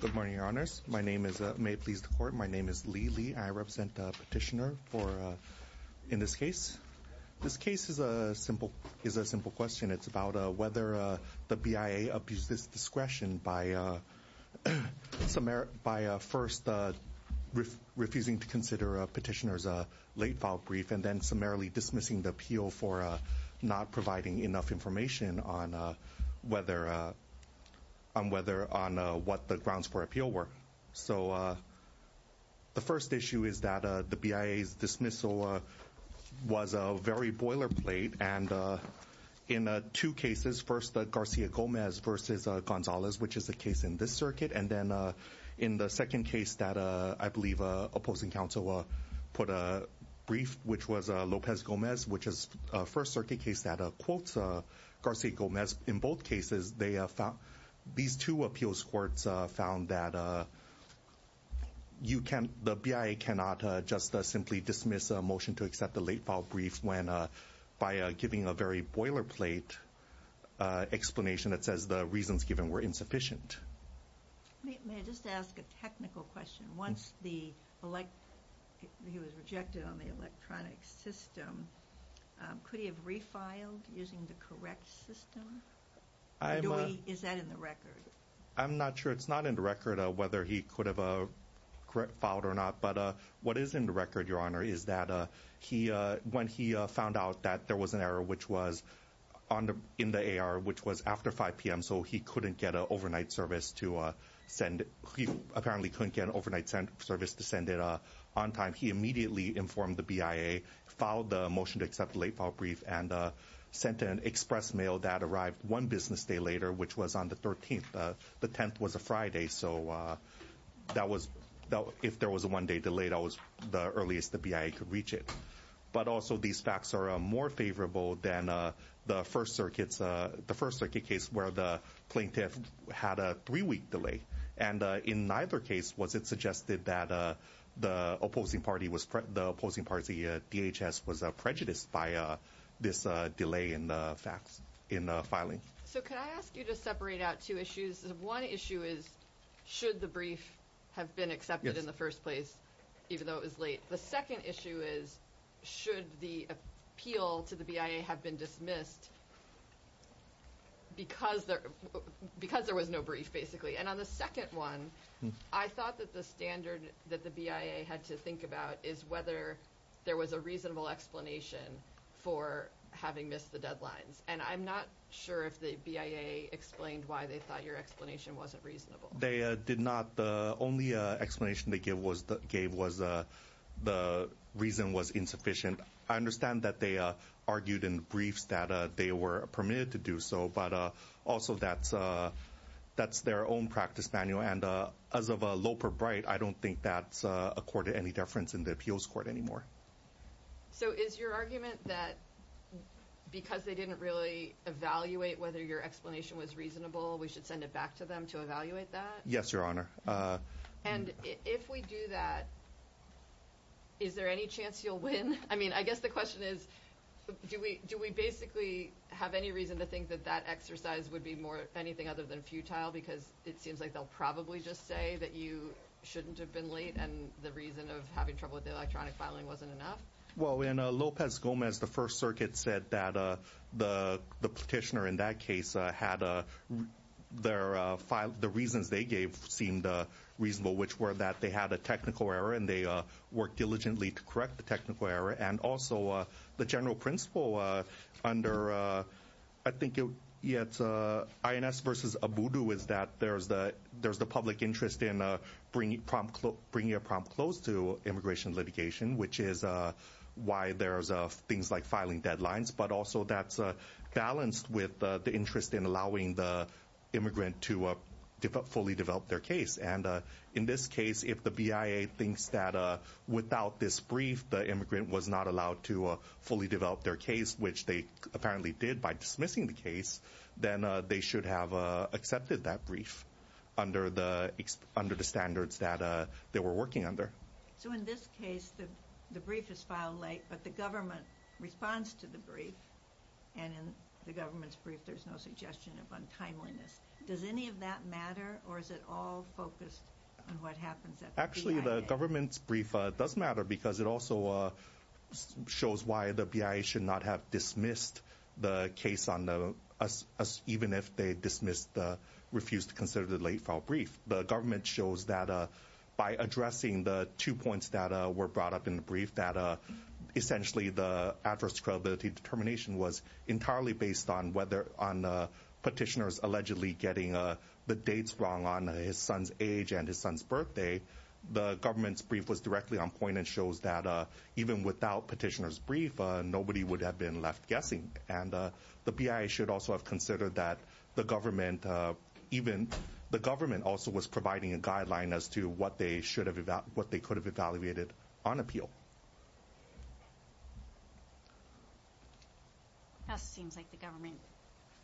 Good morning, your honors. My name is, may it please the court, my name is Lee Lee. I represent the petitioner in this case. This case is a simple question. It's about whether the BIA abused its discretion by first refusing to consider a petitioner's late-filed brief and then summarily dismissing the appeal for not providing enough information on what the grounds for appeal were. So the first issue is that the BIA's dismissal was a very boilerplate, and in two cases, first Garcia-Gomez v. Gonzalez, which is the case in this circuit, and then in the second case that I believe opposing counsel put a brief, which was Lopez-Gomez, which is a first circuit case that quotes Garcia-Gomez. In both cases, these two appeals courts found that the BIA cannot just simply dismiss a motion to accept the late-filed brief just by giving a very boilerplate explanation that says the reasons given were insufficient. May I just ask a technical question? Once he was rejected on the electronic system, could he have refiled using the correct system? Is that in the record? I'm not sure. It's not in the record whether he could have filed or not. But what is in the record, Your Honor, is that when he found out that there was an error in the AR, which was after 5 p.m., so he apparently couldn't get an overnight service to send it on time, he immediately informed the BIA, filed the motion to accept the late-filed brief, and sent an express mail that arrived one business day later, which was on the 13th. The 10th was a Friday, so if there was a one-day delay, that was the earliest the BIA could reach it. But also, these facts are more favorable than the first circuit case where the plaintiff had a three-week delay. And in neither case was it suggested that the opposing party, DHS, was prejudiced by this delay in filing. So could I ask you to separate out two issues? One issue is should the brief have been accepted in the first place, even though it was late? The second issue is should the appeal to the BIA have been dismissed because there was no brief, basically? And on the second one, I thought that the standard that the BIA had to think about is whether there was a reasonable explanation for having missed the deadlines. And I'm not sure if the BIA explained why they thought your explanation wasn't reasonable. They did not. The only explanation they gave was the reason was insufficient. I understand that they argued in briefs that they were permitted to do so, but also that's their own practice manual. And as of low per bright, I don't think that's accorded any deference in the appeals court anymore. So is your argument that because they didn't really evaluate whether your explanation was reasonable, we should send it back to them to evaluate that? Yes, Your Honor. And if we do that, is there any chance you'll win? I mean, I guess the question is do we basically have any reason to think that that exercise would be anything other than futile because it seems like they'll probably just say that you shouldn't have been late and the reason of having trouble with the electronic filing wasn't enough? Well, in Lopez Gomez, the First Circuit said that the petitioner in that case had the reasons they gave seemed reasonable, which were that they had a technical error and they worked diligently to correct the technical error. And also the general principle under I think it's INS versus ABUDU is that there's the public interest in bringing a prompt close to immigration litigation, which is why there's things like filing deadlines. But also that's balanced with the interest in allowing the immigrant to fully develop their case. And in this case, if the BIA thinks that without this brief, the immigrant was not allowed to fully develop their case, which they apparently did by dismissing the case, then they should have accepted that brief under the standards that they were working under. So in this case, the brief is filed late, but the government responds to the brief and in the government's brief, there's no suggestion of untimeliness. Does any of that matter or is it all focused on what happens at the BIA? The government's brief does matter because it also shows why the BIA should not have dismissed the case even if they dismissed the refused to consider the late-filed brief. The government shows that by addressing the two points that were brought up in the brief, that essentially the adverse credibility determination was entirely based on petitioners allegedly getting the dates wrong on his son's age and his son's birthday. The government's brief was directly on point and shows that even without petitioners' brief, nobody would have been left guessing. And the BIA should also have considered that the government also was providing a guideline as to what they could have evaluated on appeal. That seems like the government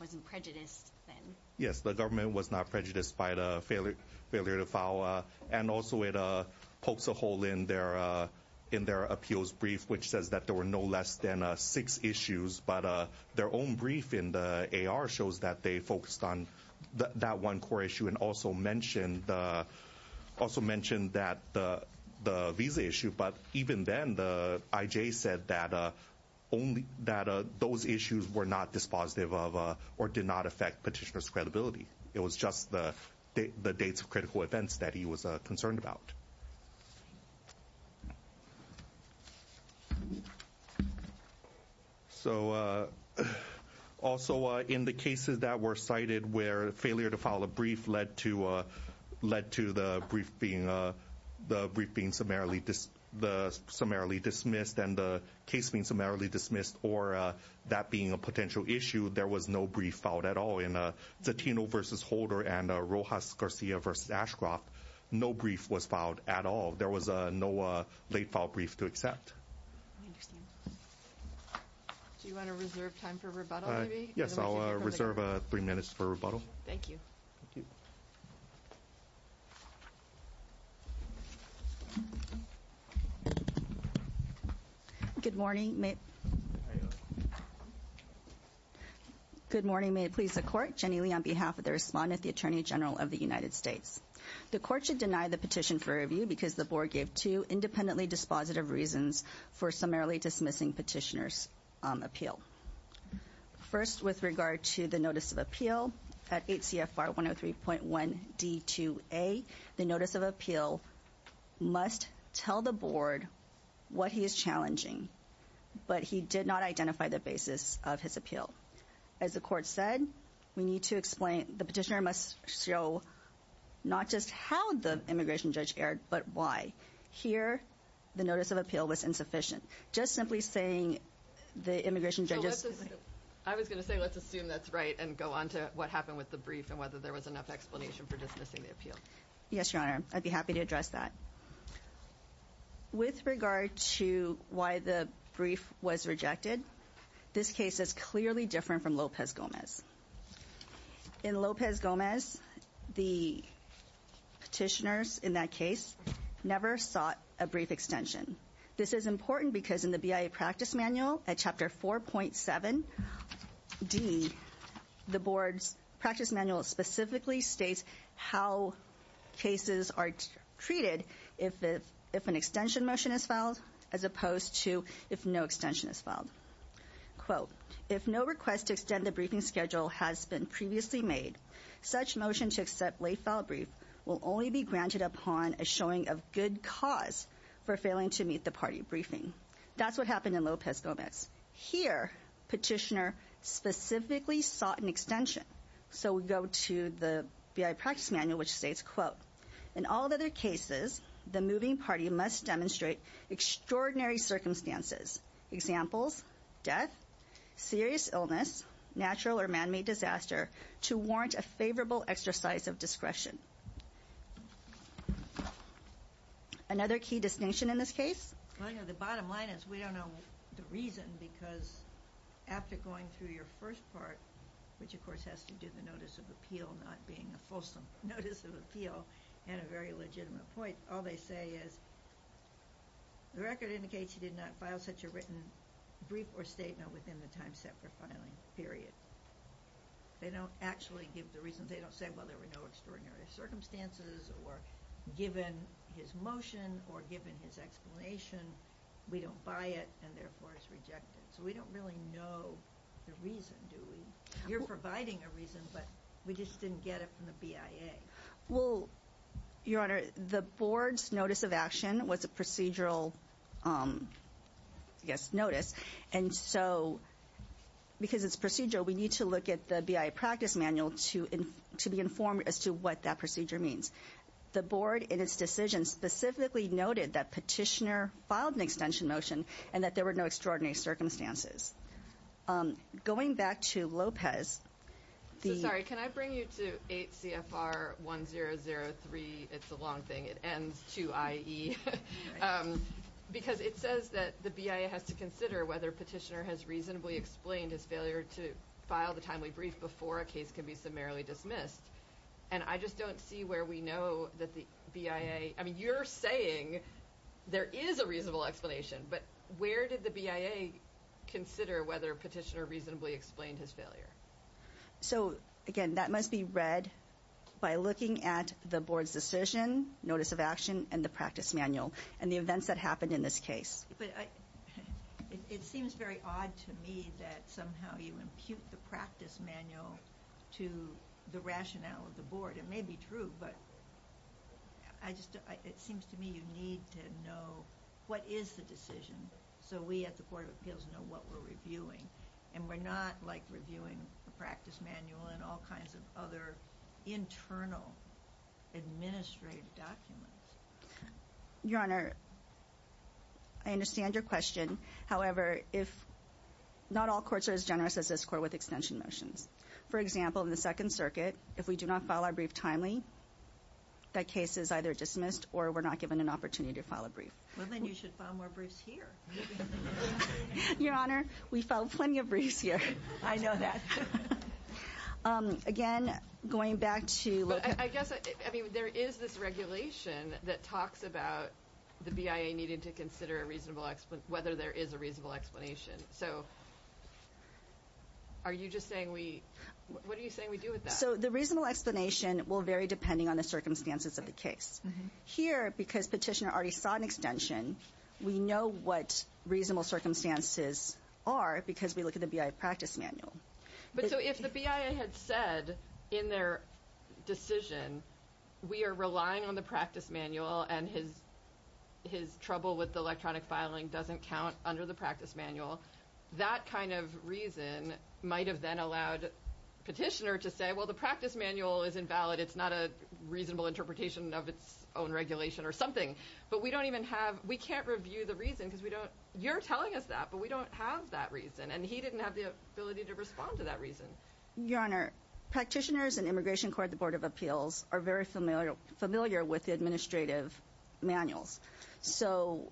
wasn't prejudiced then. But their own brief in the AR shows that they focused on that one core issue and also mentioned the visa issue. But even then, the IJ said that those issues were not dispositive of or did not affect petitioners' credibility. It was just the dates of critical events that he was concerned about. So also in the cases that were cited where failure to file a brief led to the brief being summarily dismissed and the case being summarily dismissed or that being a potential issue, there was no brief filed at all. There was no brief filed at all. There was no late-filed brief to accept. I understand. Do you want to reserve time for rebuttal, maybe? Yes, I'll reserve three minutes for rebuttal. Thank you. Thank you. Good morning. Good morning. May it please the court. Jenny Lee on behalf of the respondent, the Attorney General of the United States. The court should deny the petition for review because the board gave two independently dispositive reasons for summarily dismissing petitioners' appeal. First, with regard to the notice of appeal, at 8 CFR 103.1 D2A, the notice of appeal must tell the board what he is challenging, but he did not identify the basis of his appeal. As the court said, the petitioner must show not just how the immigration judge erred, but why. Here, the notice of appeal was insufficient. Just simply saying the immigration judge is... I was going to say let's assume that's right and go on to what happened with the brief and whether there was enough explanation for dismissing the appeal. Yes, Your Honor. I'd be happy to address that. With regard to why the brief was rejected, this case is clearly different from Lopez Gomez. In Lopez Gomez, the petitioners in that case never sought a brief extension. This is important because in the BIA practice manual at chapter 4.7 D, the board's practice manual specifically states how cases are treated if an extension motion is filed as opposed to if no extension is filed. Quote, if no request to extend the briefing schedule has been previously made, such motion to accept late file brief will only be granted upon a showing of good cause for failing to meet the party briefing. That's what happened in Lopez Gomez. Here, petitioner specifically sought an extension. So we go to the BIA practice manual, which states, quote, in all other cases, the moving party must demonstrate extraordinary circumstances, examples, death, serious illness, natural or man-made disaster, to warrant a favorable exercise of discretion. Another key distinction in this case? Well, you know, the bottom line is we don't know the reason because after going through your first part, which of course has to do with the notice of appeal not being a fulsome notice of appeal and a very legitimate point, all they say is the record indicates he did not file such a written brief or statement within the time set for filing, period. They don't actually give the reason. They don't say, well, there were no extraordinary circumstances or given his motion or given his explanation, we don't buy it and therefore it's rejected. So we don't really know the reason, do we? You're providing a reason, but we just didn't get it from the BIA. Well, Your Honor, the board's notice of action was a procedural, I guess, notice. And so because it's procedural, we need to look at the BIA practice manual to be informed as to what that procedure means. The board in its decision specifically noted that petitioner filed an extension motion and that there were no extraordinary circumstances. Going back to Lopez. Sorry, can I bring you to 8 CFR 1003? It's a long thing. It ends to IE because it says that the BIA has to consider whether petitioner has reasonably explained his failure to file the timely brief before a case can be summarily dismissed. And I just don't see where we know that the BIA. I mean, you're saying there is a reasonable explanation, but where did the BIA consider whether petitioner reasonably explained his failure? So, again, that must be read by looking at the board's decision notice of action and the practice manual and the events that happened in this case. It seems very odd to me that somehow you impute the practice manual to the rationale of the board. It may be true, but it seems to me you need to know what is the decision so we at the Court of Appeals know what we're reviewing. And we're not, like, reviewing the practice manual and all kinds of other internal administrative documents. Your Honor, I understand your question. However, not all courts are as generous as this court with extension motions. For example, in the Second Circuit, if we do not file our brief timely, that case is either dismissed or we're not given an opportunity to file a brief. Well, then you should file more briefs here. Your Honor, we filed plenty of briefs here. I know that. Again, going back to. I guess, I mean, there is this regulation that talks about the BIA needing to consider whether there is a reasonable explanation. So are you just saying we... what are you saying we do with that? So the reasonable explanation will vary depending on the circumstances of the case. Here, because Petitioner already sought an extension, we know what reasonable circumstances are because we look at the BIA practice manual. But so if the BIA had said in their decision we are relying on the practice manual and his trouble with the electronic filing doesn't count under the practice manual, that kind of reason might have then allowed Petitioner to say, well, the practice manual is invalid. It's not a reasonable interpretation of its own regulation or something. But we don't even have... we can't review the reason because we don't... you're telling us that, but we don't have that reason. And he didn't have the ability to respond to that reason. Your Honor, Practitioners and Immigration Court at the Board of Appeals are very familiar with the administrative manuals. So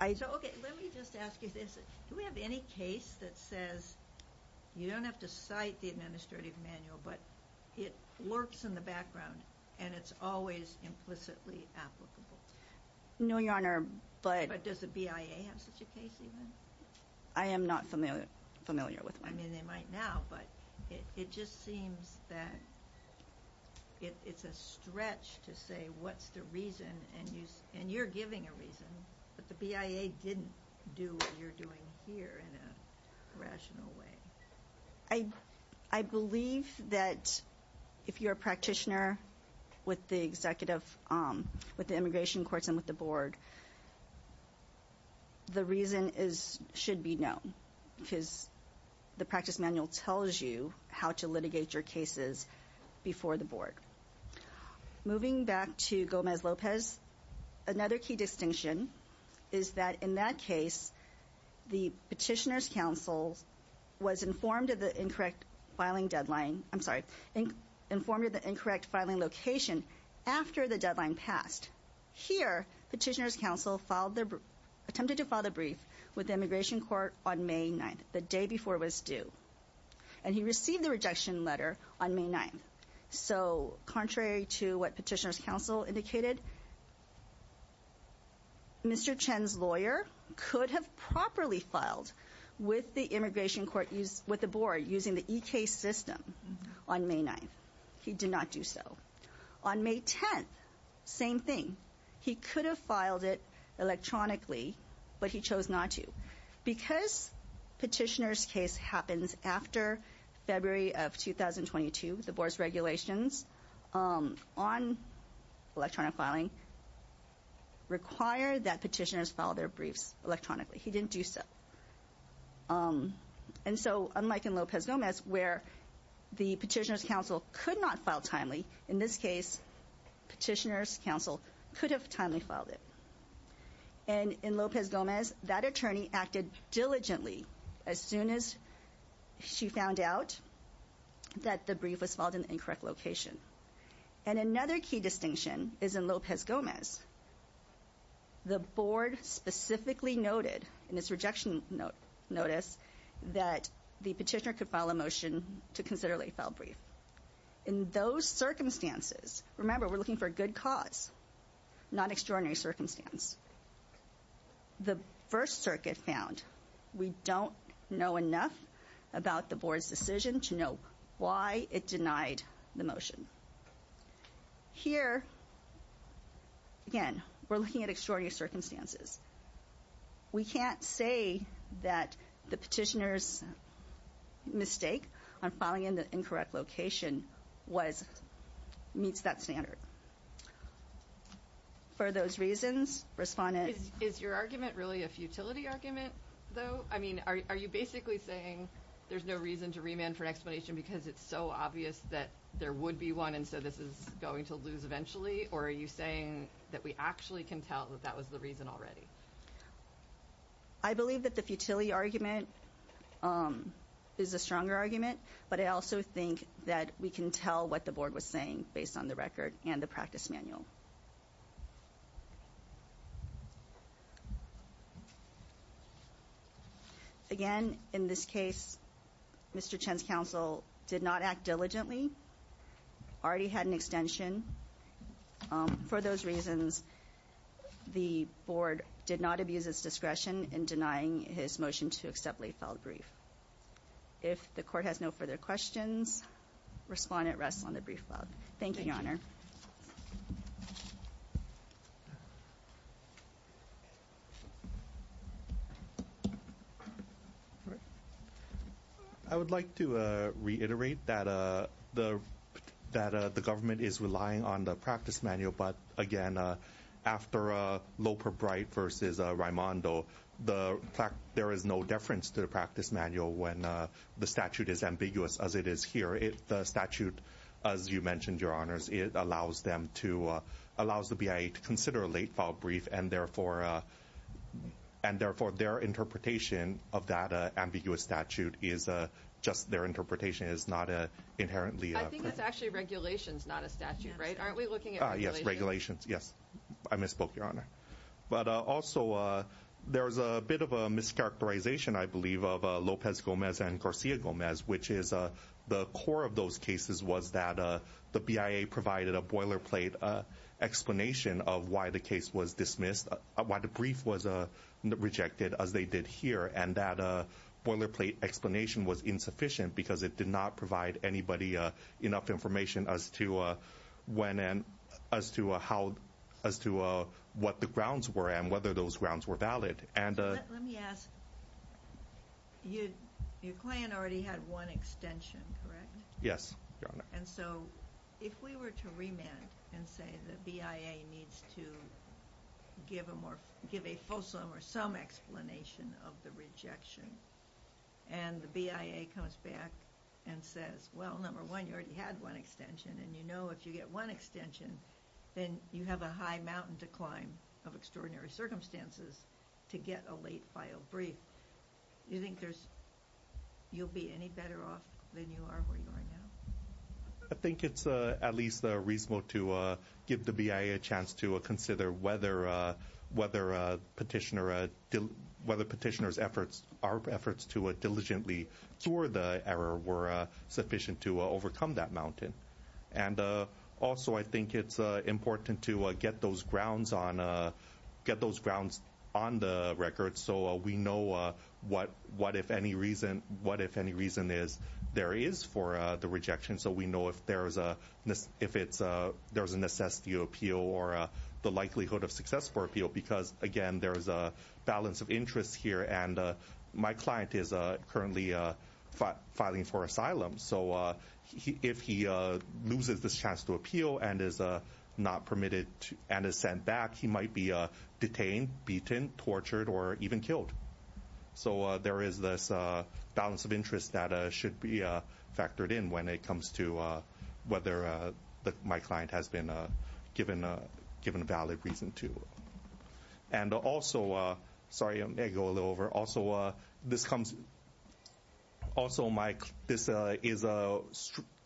I... So, okay, let me just ask you this. Do we have any case that says you don't have to cite the administrative manual, but it lurks in the background and it's always implicitly applicable? No, Your Honor, but... But does the BIA have such a case even? I am not familiar with one. I mean, they might now, but it just seems that it's a stretch to say what's the reason, and you're giving a reason, but the BIA didn't do what you're doing here in a rational way. I believe that if you're a practitioner with the executive, with the immigration courts and with the board, the reason should be known because the practice manual tells you how to litigate your cases before the board. Moving back to Gomez-Lopez, another key distinction is that in that case, the petitioner's counsel was informed of the incorrect filing deadline... I'm sorry, informed of the incorrect filing location after the deadline passed. Here, petitioner's counsel attempted to file the brief with the immigration court on May 9th, the day before it was due, and he received the rejection letter on May 9th. So, contrary to what petitioner's counsel indicated, Mr. Chen's lawyer could have properly filed with the immigration court, with the board, using the e-case system on May 9th. He did not do so. On May 10th, same thing. He could have filed it electronically, but he chose not to. Because petitioner's case happens after February of 2022, the board's regulations on electronic filing require that petitioners file their briefs electronically. He didn't do so. And so, unlike in Lopez-Gomez, where the petitioner's counsel could not file timely, in this case, petitioner's counsel could have timely filed it. And in Lopez-Gomez, that attorney acted diligently as soon as she found out that the brief was filed in the incorrect location. And another key distinction is in Lopez-Gomez, the board specifically noted in its rejection notice that the petitioner could file a motion to consider late-file brief. In those circumstances, remember, we're looking for a good cause, not extraordinary circumstance. The First Circuit found we don't know enough about the board's decision to know why it denied the motion. Here, again, we're looking at extraordinary circumstances. We can't say that the petitioner's mistake on filing in the incorrect location meets that standard. For those reasons, respondents... Is your argument really a futility argument, though? I mean, are you basically saying there's no reason to remand for an explanation because it's so obvious that there would be one, and so this is going to lose eventually? Or are you saying that we actually can tell that that was the reason already? I believe that the futility argument is a stronger argument, but I also think that we can tell what the board was saying based on the record and the practice manual. Again, in this case, Mr. Chen's counsel did not act diligently, already had an extension. For those reasons, the board did not abuse its discretion in denying his motion to accept late-file brief. If the court has no further questions, respondent rests on the brief file. Thank you, Your Honor. I would like to reiterate that the government is relying on the practice manual, but again, after Loper-Bright v. Raimondo, there is no deference to the practice manual when the statute is ambiguous as it is here. The statute, as you mentioned, Your Honors, allows the BIA to consider a late-file brief, and therefore their interpretation of that ambiguous statute is just their interpretation. It is not inherently proof. I think it's actually regulations, not a statute, right? Aren't we looking at regulations? Yes, regulations. Yes. I misspoke, Your Honor. But also, there's a bit of a mischaracterization, I believe, of Lopez-Gomez and Garcia-Gomez, which is the core of those cases was that the BIA provided a boilerplate explanation of why the case was dismissed, why the brief was rejected, as they did here, and that boilerplate explanation was insufficient because it did not provide anybody enough information as to what the grounds were and whether those grounds were valid. Let me ask. Your client already had one extension, correct? Yes, Your Honor. And so if we were to remand and say the BIA needs to give a fulsome or some explanation of the rejection and the BIA comes back and says, well, number one, you already had one extension, and you know if you get one extension, then you have a high mountain to climb of extraordinary circumstances to get a late-filed brief. Do you think you'll be any better off than you are where you are now? I think it's at least reasonable to give the BIA a chance to consider whether Petitioner's efforts, our efforts to diligently cure the error were sufficient to overcome that mountain. And also I think it's important to get those grounds on the record so we know what, if any reason is, there is for the rejection, so we know if there's a necessity appeal or the likelihood of success for appeal because, again, there's a balance of interest here and my client is currently filing for asylum. So if he loses this chance to appeal and is not permitted and is sent back, he might be detained, beaten, tortured, or even killed. So there is this balance of interest that should be factored in when it comes to whether my client has been given a valid reason to. And also, sorry, I may go a little over. Also, this is a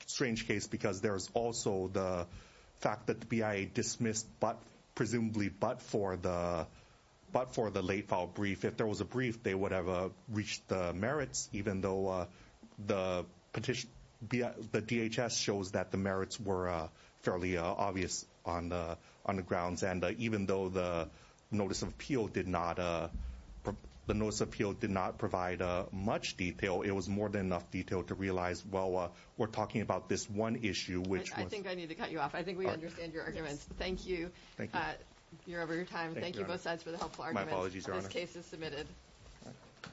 strange case because there's also the fact that the BIA dismissed, presumably but for the late-file brief, if there was a brief, they would have reached the merits even though the DHS shows that the merits were fairly obvious on the grounds. And even though the notice of appeal did not provide much detail, it was more than enough detail to realize, well, we're talking about this one issue which was I think I need to cut you off. I think we understand your arguments. Thank you. Thank you. You're over your time. Thank you both sides for the helpful arguments. My apologies, Your Honor. This case is submitted.